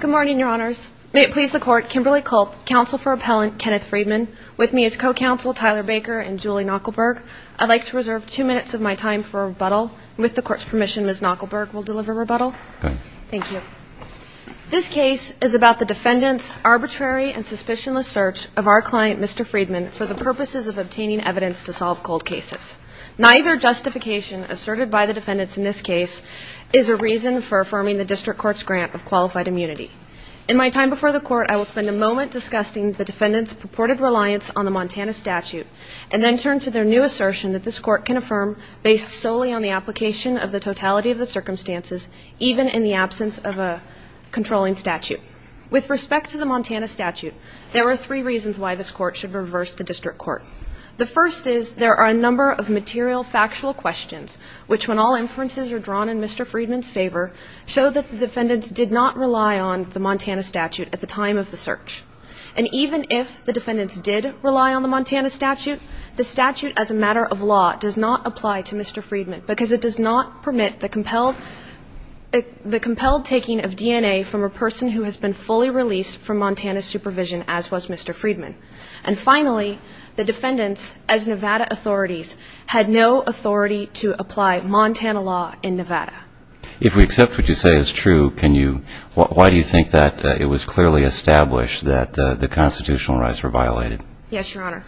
Good morning, Your Honors. May it please the Court, Kimberly Culp, Counsel for Appellant Kenneth Friedman. With me is Co-Counsel Tyler Baker and Julie Knuckleburg. I'd like to reserve two minutes of my time for rebuttal. With the Court's permission, Ms. Knuckleburg will deliver rebuttal. Thank you. This case is about the defendant's arbitrary and suspicionless search of our client, Mr. Friedman, for the purposes of obtaining evidence to solve cold cases. Neither justification asserted by the defendants in this case is a reason for affirming the District Court's grant of qualified immunity. In my time before the Court, I will spend a moment discussing the defendants' purported reliance on the Montana Statute and then turn to their new assertion that this Court can affirm based solely on the application of the totality of the circumstances, even in the absence of a controlling statute. With respect to the Montana Statute, there are three reasons why this Court should reverse the District Court. The first is there are a number of material factual questions, which when all inferences are drawn in Mr. Friedman's favor, show that the defendants did not rely on the Montana Statute at the time of the search. And even if the defendants did rely on the Montana Statute, the statute as a matter of law does not apply to Mr. Friedman because it does not permit the compelled taking of DNA from a person who has been fully released from Montana supervision, as was Mr. Friedman. And finally, the defendants, as Nevada authorities, had no authority to apply Montana law in Nevada. If we accept what you say is true, can you why do you think that it was clearly established that the constitutional rights were violated? Yes, Your Honor.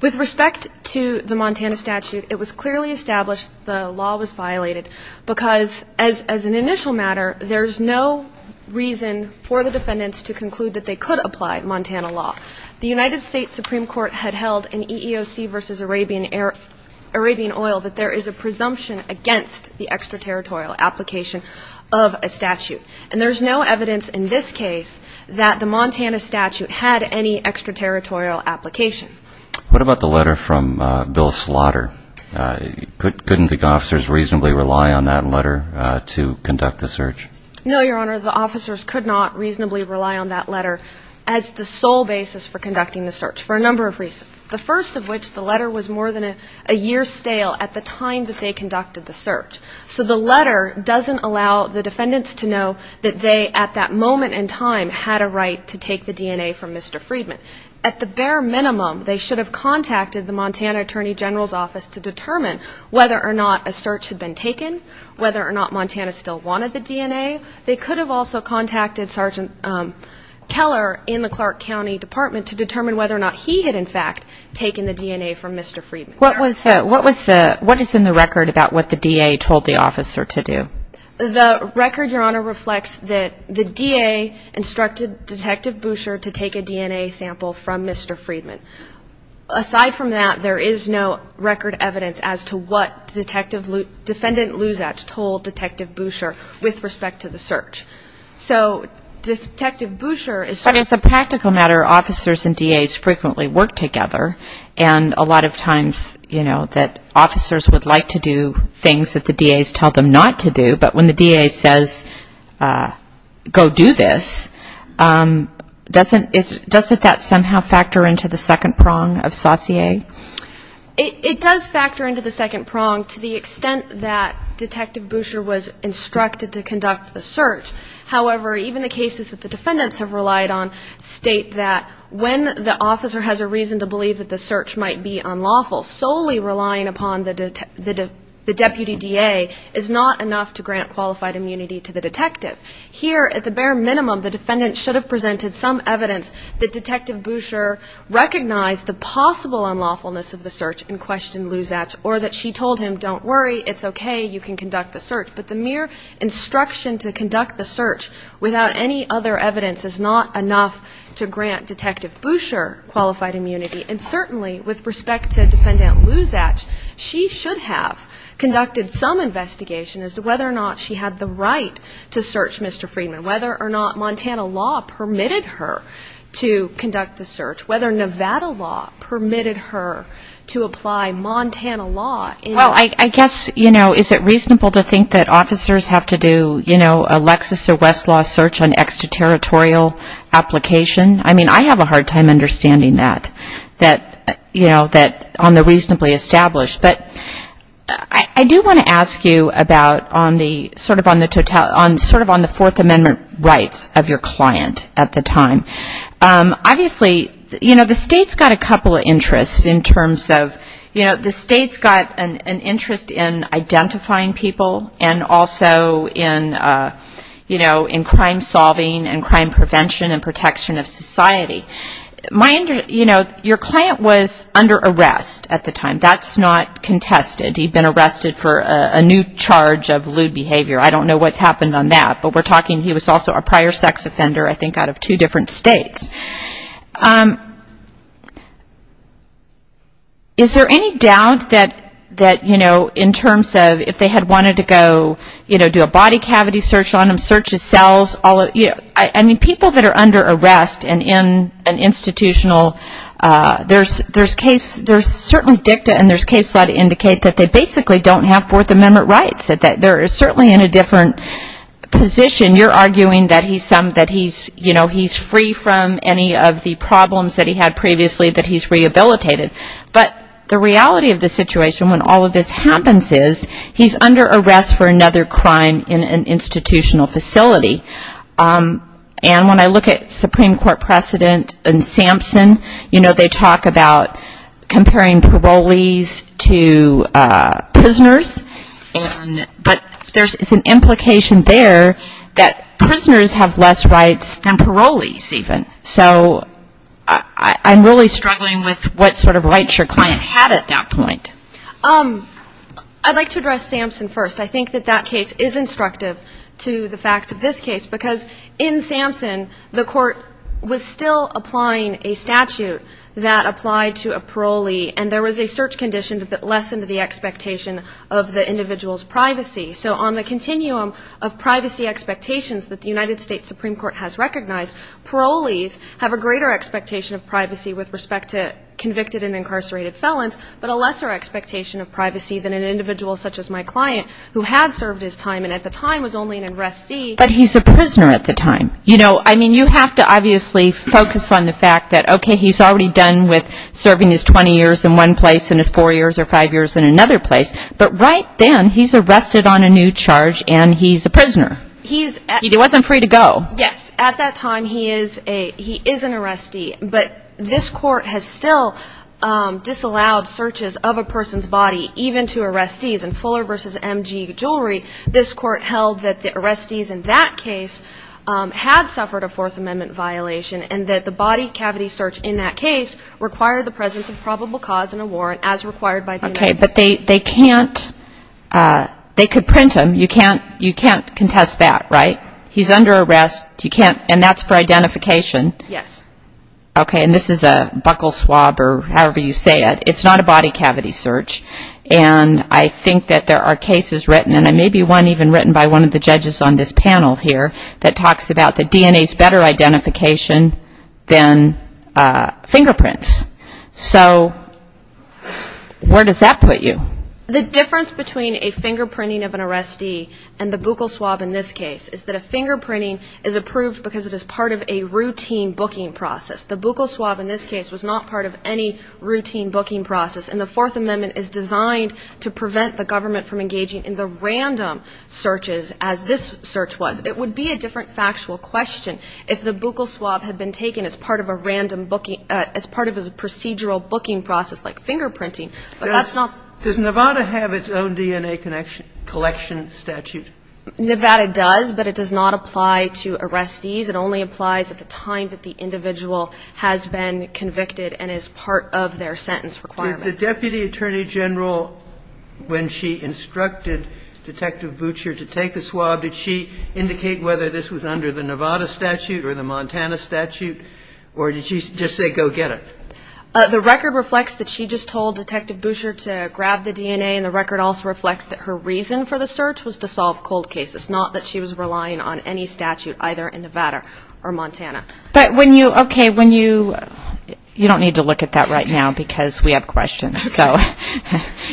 With respect to the Montana Statute, it was clearly established the law was violated because as an initial matter, there's no reason for the defendants to conclude that they could apply Montana law. The United States Supreme Court had held in EEOC v. Arabian Oil that there is a presumption against the extraterritorial application of a statute. And there's no evidence in this case that the Montana Statute had any extraterritorial application. What about the letter from Bill Slaughter? Couldn't the officers reasonably rely on that letter to conduct the search? No, Your Honor. The officers could not reasonably rely on that letter as the sole basis for conducting the search, for a number of reasons. The first of which, the letter was more than a year stale at the time that they conducted the search. So the letter doesn't allow the defendants to know that they, at that moment in time, had a right to take the DNA from Mr. Friedman. At the bare minimum, they should have contacted the Montana Attorney General's Office to determine whether or not a search had been taken, whether or not Montana still wanted the DNA. They could have also contacted Sergeant Keller in the Clark County Department to determine whether or not he had, in fact, taken the DNA from Mr. Friedman. What is in the record about what the DA told the officer to do? The record, Your Honor, reflects that the DA instructed Detective Boucher to take a DNA sample from Mr. Friedman. Aside from that, there is no record evidence as to what Defendant Luzach told Detective Boucher with respect to the search. So Detective Boucher is sort of... But as a practical matter, officers and DAs frequently work together, and a lot of times, you know, that officers would like to do things that the DAs tell them not to do, but when the DA says, go do this, doesn't that somehow factor into the second prong of sautier? It does factor into the second prong to the extent that Detective Boucher was instructed to conduct the search. However, even the cases that the defendants have relied on state that when the officer has a reason to believe that the search might be unlawful, solely relying upon the Deputy DA is not enough to grant qualified immunity to the detective. Here, at the bare minimum, the defendant should have presented some evidence that Detective Boucher recognized the possible unlawfulness of the search and questioned Luzach, or that she told him, don't worry, it's okay, you can conduct the search. But the mere instruction to conduct the search without any other evidence is not enough to grant Detective Boucher qualified immunity. And certainly, with respect to Defendant Luzach, she should have conducted some investigation as to whether or not she had the right to search Mr. Friedman, whether or not Montana law permitted her to conduct the search, whether Nevada law permitted her to apply Montana law. Well, I guess, you know, is it reasonable to think that officers have to do, you know, a Lexis or Westlaw search on extraterritorial application? I mean, I have a hard time understanding that, you know, on the reasonably established. But I do want to ask you about on the sort of on the Fourth Amendment rights of your client at the time. Obviously, you know, the State's got a couple of interests in terms of, you know, the State's got an interest in identifying people and also in, you know, in crime solving and crime prevention and protection of society. You know, your client was under arrest at the time. That's not contested. He'd been arrested for a new charge of lewd behavior. I don't know what's happened on that, but we're talking he was also a prior sex offender, I think, out of two different States. Is there any doubt that, you know, in terms of if they had wanted to go, you know, do a body cavity search on him, search his cells, all of, you know, I mean, people that are under arrest and in an institutional, there's certainly dicta and there's case law to indicate that they basically don't have Fourth Amendment rights, that they're certainly in a different position. You're arguing that he's, you know, he's free from any of the problems that he had previously that he's rehabilitated. But the reality of the situation when all of this happens is he's under arrest for another crime in an institutional facility. And when I look at Supreme Court precedent in Sampson, you know, they talk about comparing parolees to prisoners. But there's an implication there that prisoners have less rights than parolees even. So I'm really struggling with what sort of rights your client had at that point. I'd like to address Sampson first. I think that that case is instructive to the facts of this case, because in Sampson, the court was still applying a statute that applied to a parolee, and there was a search condition so on the continuum of privacy expectations that the United States Supreme Court has recognized, parolees have a greater expectation of privacy with respect to convicted and incarcerated felons, but a lesser expectation of privacy than an individual such as my client who had served his time and at the time was only an arrestee. But he's a prisoner at the time. You know, I mean, you have to obviously focus on the fact that, okay, he's already done with serving his 20 years in one place and his four years or five years in another place, but right then he's arrested on a new charge and he's a prisoner. He wasn't free to go. Yes, at that time he is an arrestee, but this court has still disallowed searches of a person's body, even to arrestees, and Fuller v. M.G. Jewelry, this court held that the arrestees in that case had suffered a Fourth Amendment violation and that the body cavity search in that case required the presence of probable cause and a warrant as required by the United States. Okay, but they can't they could print him. You can't contest that, right? He's under arrest, and that's for identification. Okay, and this is a buccal swab or however you say it. It's not a body cavity search, and I think that there are cases written, and maybe one even written by one of the judges on this panel here, that talks about the DNA's better identification than fingerprints. So where does that put you? The difference between a fingerprinting of an arrestee and the buccal swab in this case is that a fingerprinting is approved because it is part of a routine booking process. The buccal swab in this case was not part of any routine booking process, and the Fourth Amendment is designed to prevent the government from engaging in the random searches as this search was. It would be a different factual question if the buccal swab had been taken as part of a random booking as part of a procedural booking process like fingerprinting, but that's not. Does Nevada have its own DNA collection statute? Nevada does, but it does not apply to arrestees. It only applies at the time that the individual has been convicted and is part of their sentence requirement. Did the Deputy Attorney General, when she instructed Detective Butcher to take the swab, did she indicate whether this was under the Nevada statute or the Montana statute, or did she just say go get it? The record reflects that she just told Detective Butcher to grab the DNA, and the record also reflects that her reason for the search was to solve cold cases, not that she was relying on any statute either in Nevada or Montana. But when you, okay, when you, you don't need to look at that right now because we have questions. Okay.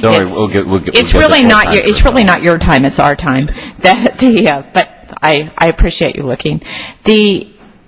It's really not your time, it's our time. But I appreciate you looking.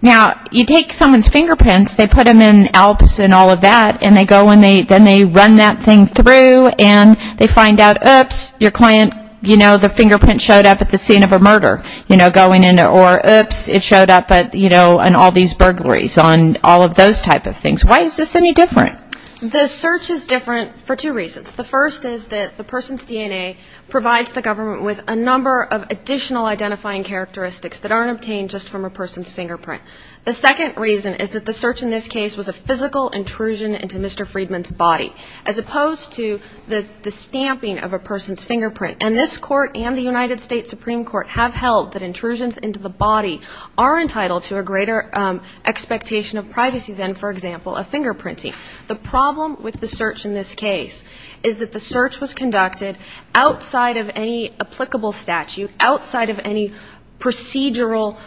Now, you take someone's fingerprints, they put them in Alps and all of that, and they go and then they run that thing through, and they find out, oops, your client, you know, the fingerprint showed up at the scene of a murder, you know, going into, or oops, it showed up at, you know, on all these burglaries, on all of those type of things. Why is this any different? The search is different for two reasons. The first is that the person's DNA provides the government with a number of additional identifying characteristics that aren't obtained just from a person's fingerprint. The second reason is that the search in this case was a physical intrusion into Mr. Friedman's body, as opposed to the stamping of a person's fingerprint. And this Court and the United States Supreme Court have held that intrusions into the body are entitled to a greater expectation of privacy than, for example, a fingerprinting. The problem with the search in this case is that the search was conducted outside of any applicable statute, outside of any procedural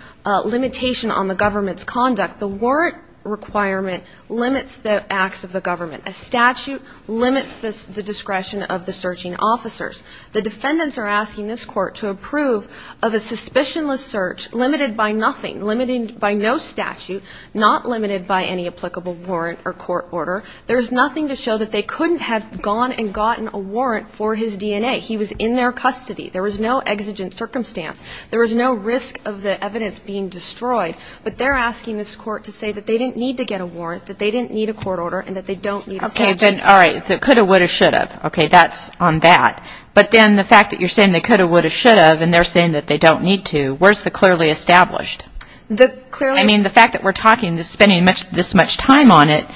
limitation on the government's conduct. The warrant requirement limits the acts of the government. A statute limits the discretion of the searching officers. The defendants are asking this Court to approve of a suspicionless search limited by nothing, limited by no statute, not limited by any applicable warrant or court order. There is nothing to show that they couldn't have gone and gotten a warrant for his DNA. He was in their custody. There was no exigent circumstance. There was no risk of the evidence being destroyed. But they're asking this Court to say that they didn't need to get a warrant, that they didn't need a court order, and that they don't need a statute. Okay. Then, all right. So could have, would have, should have. Okay. That's on that. But then the fact that you're saying they could have, would have, should have, and they're saying that they don't need to, where's the clearly established? The clearly established. I mean, the fact that we're talking, spending this much time on it,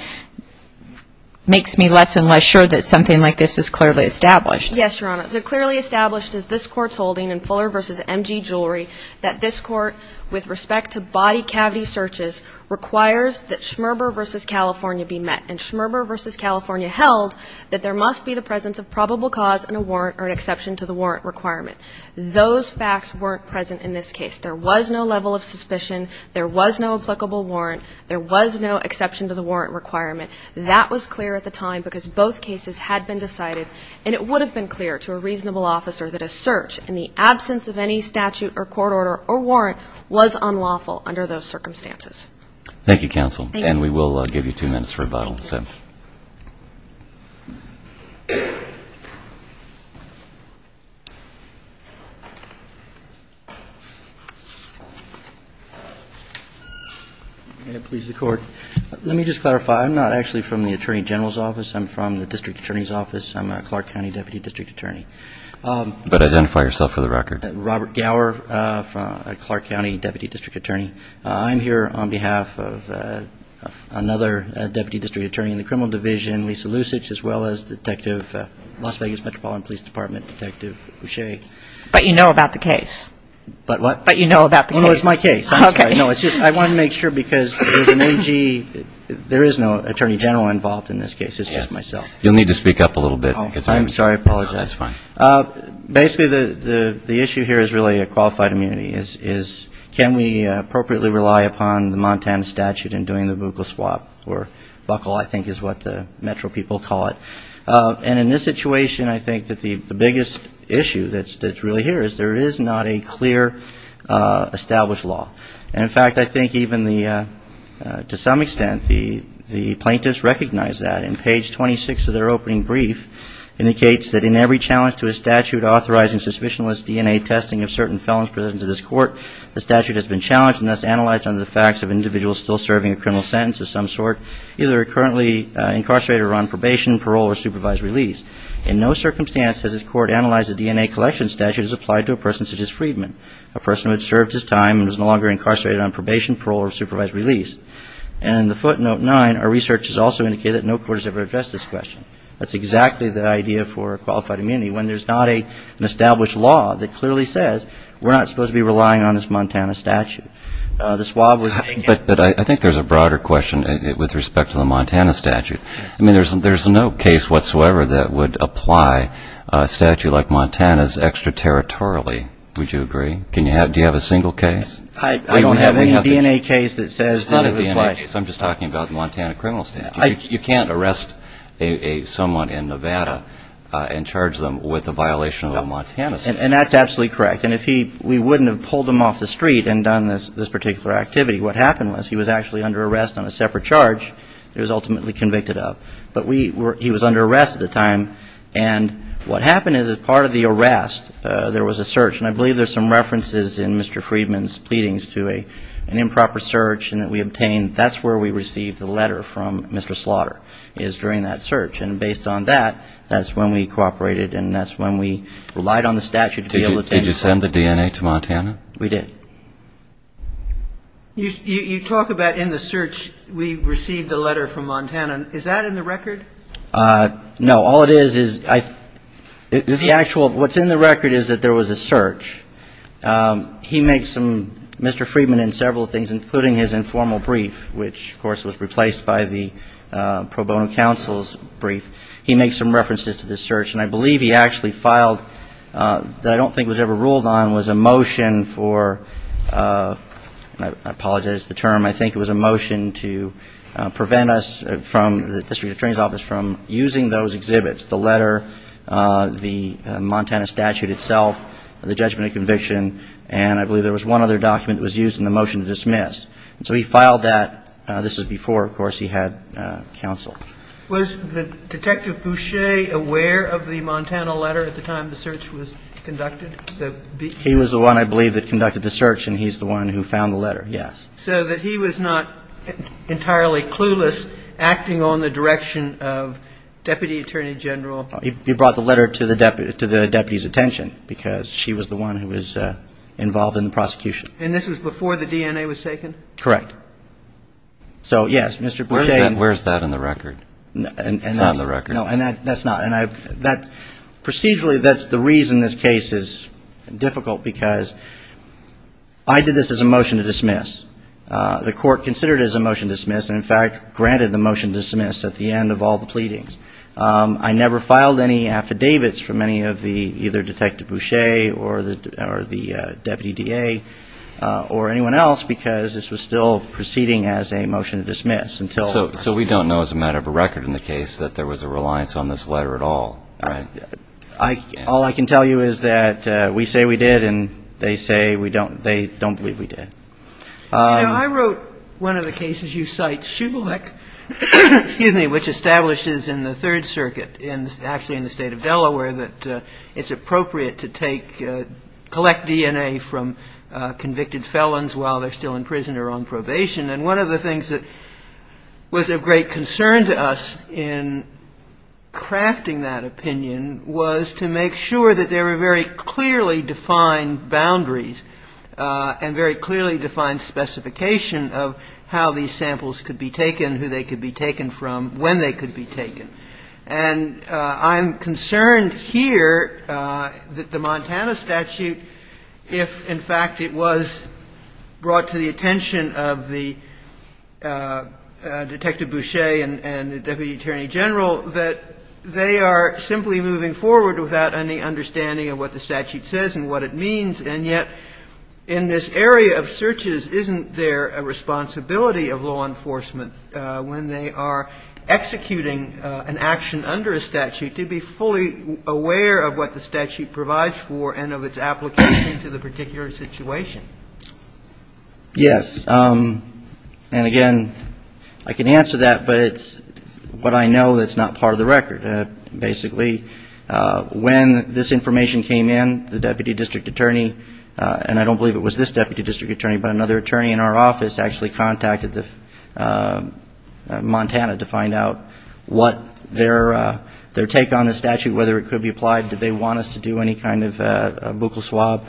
makes me less and less sure that something like this is clearly established. Yes, Your Honor. The clearly established is this Court's holding in Fuller v. M.G. Jewelry that this Court, with respect to body cavity searches, requires that Schmerber v. California be met. And Schmerber v. California held that there must be the presence of probable cause in a warrant or an exception to the warrant requirement. Those facts weren't present in this case. There was no level of suspicion. There was no applicable warrant. There was no exception to the warrant requirement. That was clear at the time because both cases had been decided, and it would have been clear to a reasonable officer that a search in the absence of any statute or court order or warrant was unlawful under those circumstances. Thank you, counsel. Thank you. And we will give you two minutes for rebuttal. May it please the Court. Let me just clarify. I'm not actually from the Attorney General's Office. I'm from the District Attorney's Office. I'm a Clark County Deputy District Attorney. But identify yourself for the record. Robert Gower, a Clark County Deputy District Attorney. a Clark County Deputy District Attorney. Lisa Lusich, as well as Detective Las Vegas Metropolitan Police Department Detective Boucher. But you know about the case. But what? But you know about the case. Oh, no, it's my case. I'm sorry. No, it's just I wanted to make sure because there's an NG. There is no Attorney General involved in this case. It's just myself. You'll need to speak up a little bit. I'm sorry. I apologize. That's fine. Basically, the issue here is really a qualified immunity, is can we appropriately rely upon the Montana statute in doing the buccal swap or buccal I think is what the metro people call it. And in this situation, I think that the biggest issue that's really here is there is not a clear established law. And, in fact, I think even to some extent the plaintiffs recognize that. And page 26 of their opening brief indicates that in every challenge to a statute authorizing suspicionless DNA testing of certain felons presented to this court, the statute has been challenged and thus analyzed under the facts of individuals still serving a criminal sentence of some sort either currently incarcerated or on probation, parole, or supervised release. In no circumstance has this court analyzed a DNA collection statute as applied to a person such as Friedman, a person who had served his time and was no longer incarcerated on probation, parole, or supervised release. And in the footnote 9, our research has also indicated that no court has ever addressed this question. That's exactly the idea for qualified immunity, when there's not an established law that clearly says we're not supposed to be relying on this Montana statute. But I think there's a broader question with respect to the Montana statute. I mean, there's no case whatsoever that would apply a statute like Montana's extraterritorially, would you agree? Do you have a single case? I don't have any DNA case that says that it would apply. It's not a DNA case. I'm just talking about the Montana criminal statute. You can't arrest someone in Nevada and charge them with a violation of the Montana statute. And that's absolutely correct. And we wouldn't have pulled him off the street and done this particular activity. What happened was he was actually under arrest on a separate charge that he was ultimately convicted of. But he was under arrest at the time. And what happened is as part of the arrest, there was a search. And I believe there's some references in Mr. Friedman's pleadings to an improper search that we obtained. That's where we received the letter from Mr. Slaughter, is during that search. And based on that, that's when we cooperated, and that's when we relied on the statute to be able to take it. Did you send the DNA to Montana? We did. You talk about in the search we received a letter from Montana. Is that in the record? No. All it is is the actual ‑‑ what's in the record is that there was a search. He makes some ‑‑ Mr. Friedman in several things, including his informal brief, which, of course, was replaced by the pro bono counsel's brief, he makes some references to this search. And I believe he actually filed, that I don't think was ever ruled on, was a motion for ‑‑ and I apologize for the term. I think it was a motion to prevent us from, the District Attorney's Office, from using those exhibits, the letter, the Montana statute itself, the judgment of conviction. And I believe there was one other document that was used in the motion to dismiss. So he filed that. This was before, of course, he had counsel. Was the Detective Boucher aware of the Montana letter at the time the search was conducted? He was the one, I believe, that conducted the search, and he's the one who found the letter, yes. So that he was not entirely clueless acting on the direction of Deputy Attorney General? He brought the letter to the deputy's attention because she was the one who was involved in the prosecution. And this was before the DNA was taken? Correct. So, yes, Mr. Boucher. Where's that in the record? It's not in the record. No, that's not. Procedurally, that's the reason this case is difficult, because I did this as a motion to dismiss. The court considered it as a motion to dismiss and, in fact, granted the motion to dismiss at the end of all the pleadings. I never filed any affidavits from any of the either Detective Boucher or the Deputy DA or anyone else because this was still proceeding as a motion to dismiss. So we don't know as a matter of a record in the case that there was a reliance on this letter at all, right? All I can tell you is that we say we did, and they say we don't. They don't believe we did. You know, I wrote one of the cases you cite, Shubilec, excuse me, which establishes in the Third Circuit, actually in the State of Delaware, that it's appropriate to collect DNA from convicted felons while they're still in prison or on probation. And one of the things that was of great concern to us in crafting that opinion was to make sure that there were very clearly defined boundaries and very clearly defined specification of how these samples could be taken, who they could be taken from, when they could be taken. And I'm concerned here that the Montana statute, if in fact it was brought to the attention of the Detective Boucher and the Deputy Attorney General, that they are simply moving forward without any understanding of what the statute says and what it means. And yet in this area of searches, isn't there a responsibility of law enforcement when they are executing an action under a statute to be fully aware of what the statute provides for and of its application to the particular situation? Yes. And again, I can answer that, but it's what I know that's not part of the record. Basically, when this information came in, the Deputy District Attorney, and I don't believe it was this Deputy District Attorney, but another attorney in our office, actually contacted Montana to find out what their take on the statute, whether it could be applied, did they want us to do any kind of buccal swab.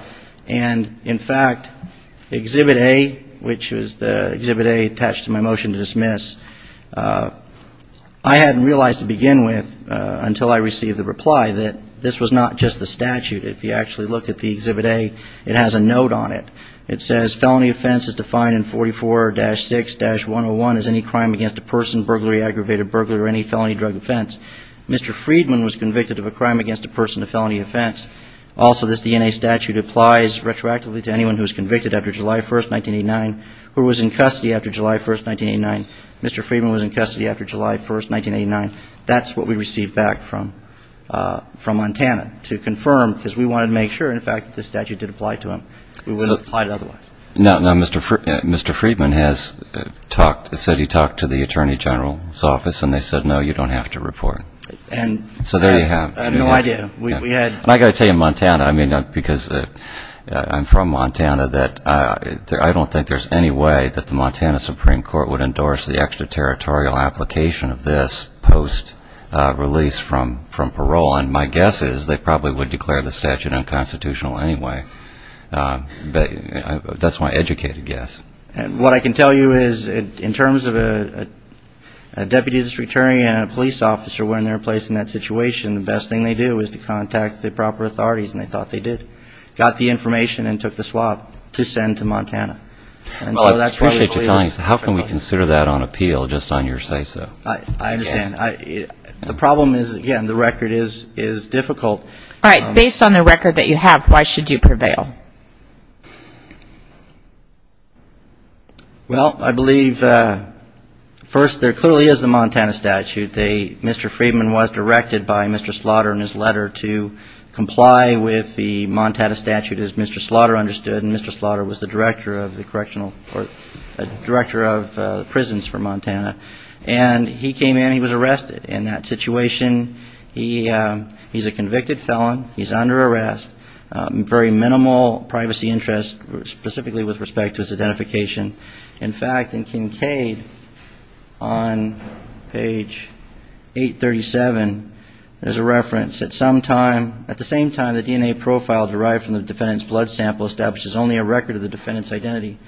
And in fact, Exhibit A, which was the Exhibit A attached to my motion to dismiss, I hadn't realized to begin with until I received the reply that this was not just the statute. If you actually look at the Exhibit A, it has a note on it. It says, Felony offense is defined in 44-6-101 as any crime against a person, burglary, aggravated burglary, or any felony drug offense. Mr. Friedman was convicted of a crime against a person, a felony offense. Also, this DNA statute applies retroactively to anyone who was convicted after July 1st, 1989, or was in custody after July 1st, 1989. Mr. Friedman was in custody after July 1st, 1989. That's what we received back from Montana to confirm, because we wanted to make sure, in fact, that the statute did apply to him. We wouldn't have applied it otherwise. Now, Mr. Friedman has said he talked to the Attorney General's office, and they said, no, you don't have to report. So there you have it. I have no idea. I've got to tell you, Montana, I mean, because I'm from Montana, that I don't think there's any way that the Montana Supreme Court would endorse the extraterritorial application of this post-release from parole. And my guess is they probably would declare the statute unconstitutional anyway. But that's my educated guess. What I can tell you is, in terms of a deputy district attorney and a police officer when they're placed in that situation, the best thing they do is to contact the proper authorities, and they thought they did. They got the information and took the swab to send to Montana. And so that's why they declared it unconstitutional. Well, I appreciate you telling us that. How can we consider that on appeal, just on your say-so? I understand. The problem is, again, the record is difficult. All right. Based on the record that you have, why should you prevail? Well, I believe, first, there clearly is the Montana statute. Mr. Friedman was directed by Mr. Slaughter in his letter to comply with the Montana statute, as Mr. Slaughter understood. And Mr. Slaughter was the director of prisons for Montana. And he came in. He was arrested. In that situation, he's a convicted felon. He's under arrest. Very minimal privacy interest, specifically with respect to his identification. In fact, in Kincaid, on page 837, there's a reference. At the same time, the DNA profile derived from the defendant's blood sample establishes only a record of the defendant's identity.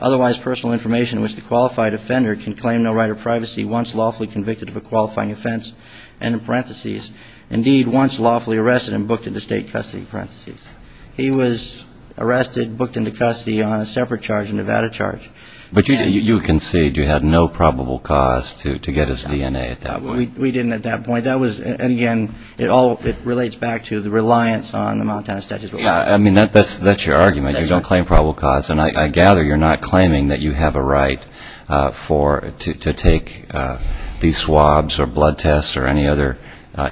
Otherwise, personal information in which the qualified offender can claim no right of privacy, once lawfully convicted of a qualifying offense, end in parentheses, indeed, once lawfully arrested and booked into state custody, parentheses. He was arrested, booked into custody on a separate charge, a Nevada charge. But you concede you had no probable cause to get his DNA at that point. We didn't at that point. That was, again, it relates back to the reliance on the Montana statute. Yeah, I mean, that's your argument. You don't claim probable cause. And I gather you're not claiming that you have a right to take these swabs or blood tests or any other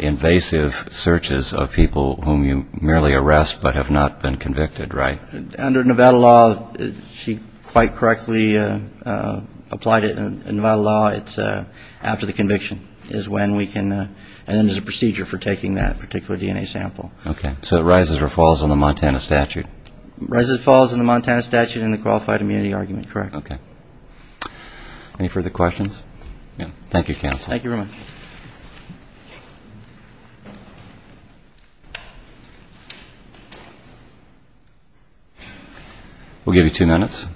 invasive searches of people whom you merely arrest but have not been convicted, right? Under Nevada law, she quite correctly applied it. In Nevada law, it's after the conviction is when we can, and then there's a procedure for taking that particular DNA sample. Okay. So it rises or falls on the Montana statute? Rises or falls on the Montana statute and the qualified immunity argument, correct. Okay. Any further questions? No. Thank you, counsel. Thank you very much. We'll give you two minutes.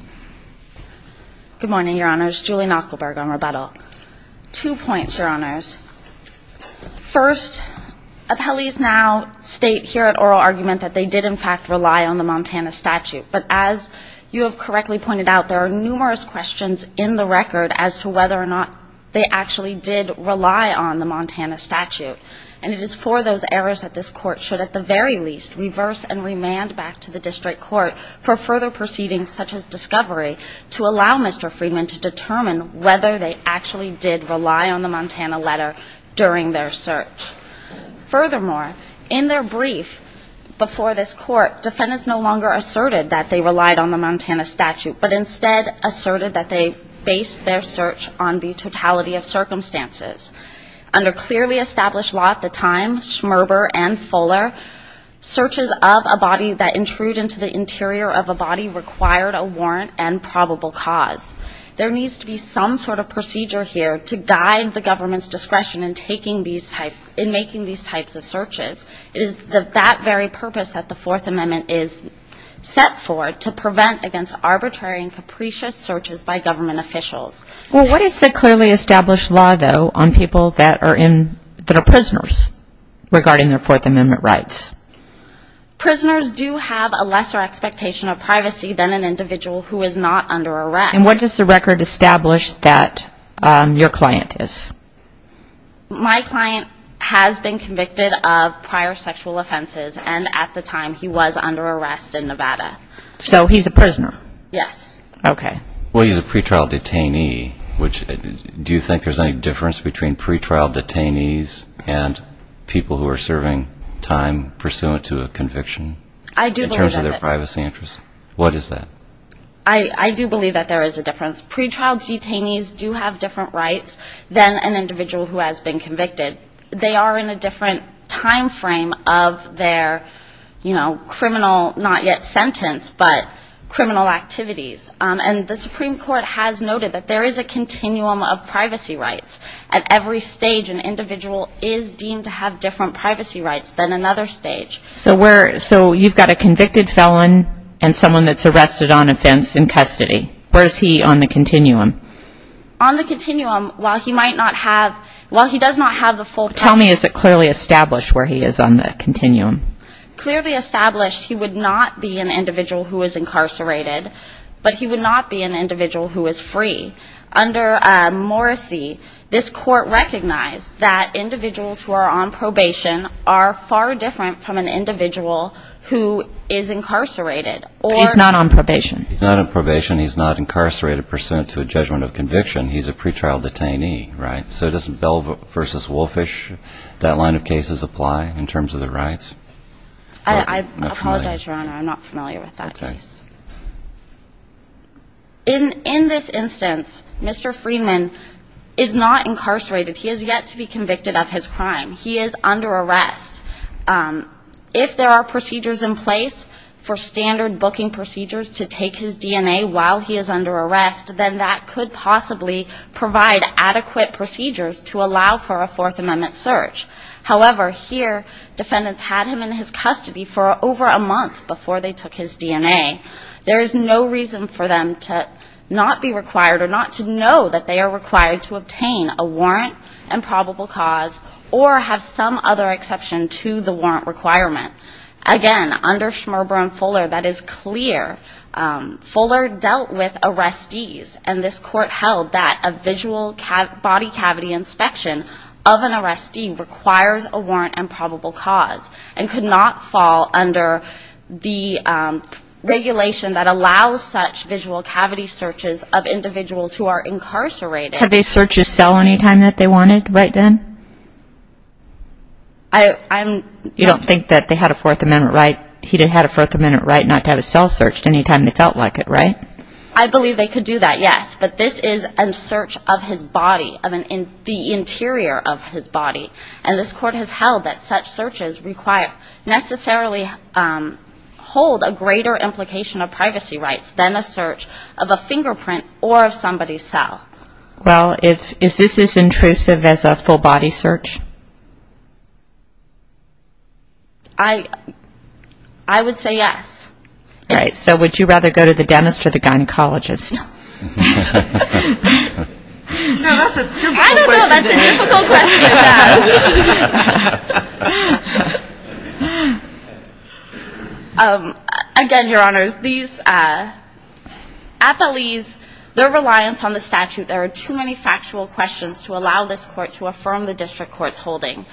Good morning, Your Honors. Julie Knuckleburg on rebuttal. Two points, Your Honors. First, appellees now state here at oral argument that they did, in fact, rely on the Montana statute. But as you have correctly pointed out, there are numerous questions in the record as to whether or not they actually did rely on the Montana statute. And it is for those errors that this court should, at the very least, reverse and remand back to the district court for further proceedings such as discovery to allow Mr. Friedman to determine whether they actually did rely on the Montana letter during their search. Furthermore, in their brief before this court, defendants no longer asserted that they relied on the Montana statute but instead asserted that they based their search on the totality of circumstances. Under clearly established law at the time, Schmerber and Fuller, searches of a body that intrude into the interior of a body required a warrant and probable cause. There needs to be some sort of procedure here to guide the government's discretion in taking these types and making these types of searches. It is that very purpose that the Fourth Amendment is set for, to prevent against arbitrary and capricious searches by government officials. Well, what is the clearly established law, though, on people that are in, that are prisoners regarding their Fourth Amendment rights? Prisoners do have a lesser expectation of privacy than an individual who is not under arrest. And what does the record establish that your client is? My client has been convicted of prior sexual offenses, and at the time he was under arrest in Nevada. So he's a prisoner? Yes. Okay. Well, he's a pretrial detainee, which do you think there's any difference between pretrial detainees and people who are serving time pursuant to a conviction in terms of their privacy interests? What is that? I do believe that there is a difference. Pretrial detainees do have different rights than an individual who has been convicted. They are in a different time frame of their criminal, not yet sentenced, but criminal activities. And the Supreme Court has noted that there is a continuum of privacy rights. At every stage, an individual is deemed to have different privacy rights than another stage. So you've got a convicted felon and someone that's arrested on offense in custody. Where is he on the continuum? On the continuum, while he might not have the full privacy rights. Tell me, is it clearly established where he is on the continuum? Clearly established, he would not be an individual who is incarcerated, but he would not be an individual who is free. Under Morrissey, this court recognized that individuals who are on probation are far different from an individual who is incarcerated. But he's not on probation? He's not on probation. He's not incarcerated pursuant to a judgment of conviction. He's a pretrial detainee, right? So doesn't Bell v. Wolfish, that line of cases, apply in terms of the rights? I apologize, Your Honor. I'm not familiar with that case. In this instance, Mr. Friedman is not incarcerated. He has yet to be convicted of his crime. He is under arrest. If there are procedures in place for standard booking procedures to take his DNA while he is under arrest, then that could possibly provide adequate procedures to allow for a Fourth Amendment search. However, here defendants had him in his custody for over a month before they took his DNA. There is no reason for them to not be required or not to know that they are required to obtain a warrant and probable cause or have some other exception to the warrant requirement. Again, under Schmerber and Fuller, that is clear. Fuller dealt with arrestees, and this court held that a visual body cavity inspection of an arrestee requires a warrant and probable cause and could not fall under the regulation that allows such visual cavity searches of individuals who are incarcerated. Could they search his cell any time that they wanted right then? You don't think that he had a Fourth Amendment right not to have his cell searched any time they felt like it, right? I believe they could do that, yes. But this is a search of his body, the interior of his body, and this court has held that such searches necessarily hold a greater implication of privacy rights than a search of a fingerprint or of somebody's cell. Well, is this as intrusive as a full body search? I would say yes. All right. So would you rather go to the dentist or the gynecologist? No, that's a difficult question to answer. I don't know. That's a difficult question to ask. Again, Your Honors, these appellees, their reliance on the statute, there are too many factual questions to allow this court to affirm the district court's holding.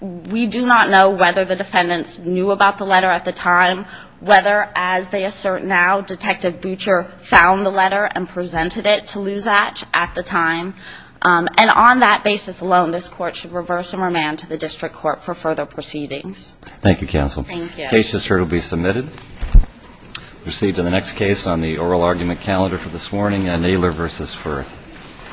We do not know whether the defendants knew about the letter at the time, whether, as they assert now, Detective Butcher found the letter and presented it to Lou Zatch at the time. And on that basis alone, this court should reverse and remand to the district court for further proceedings. Thank you, counsel. Thank you. The case is heard and will be submitted. We'll proceed to the next case on the oral argument calendar for this morning, Naylor v. Firth.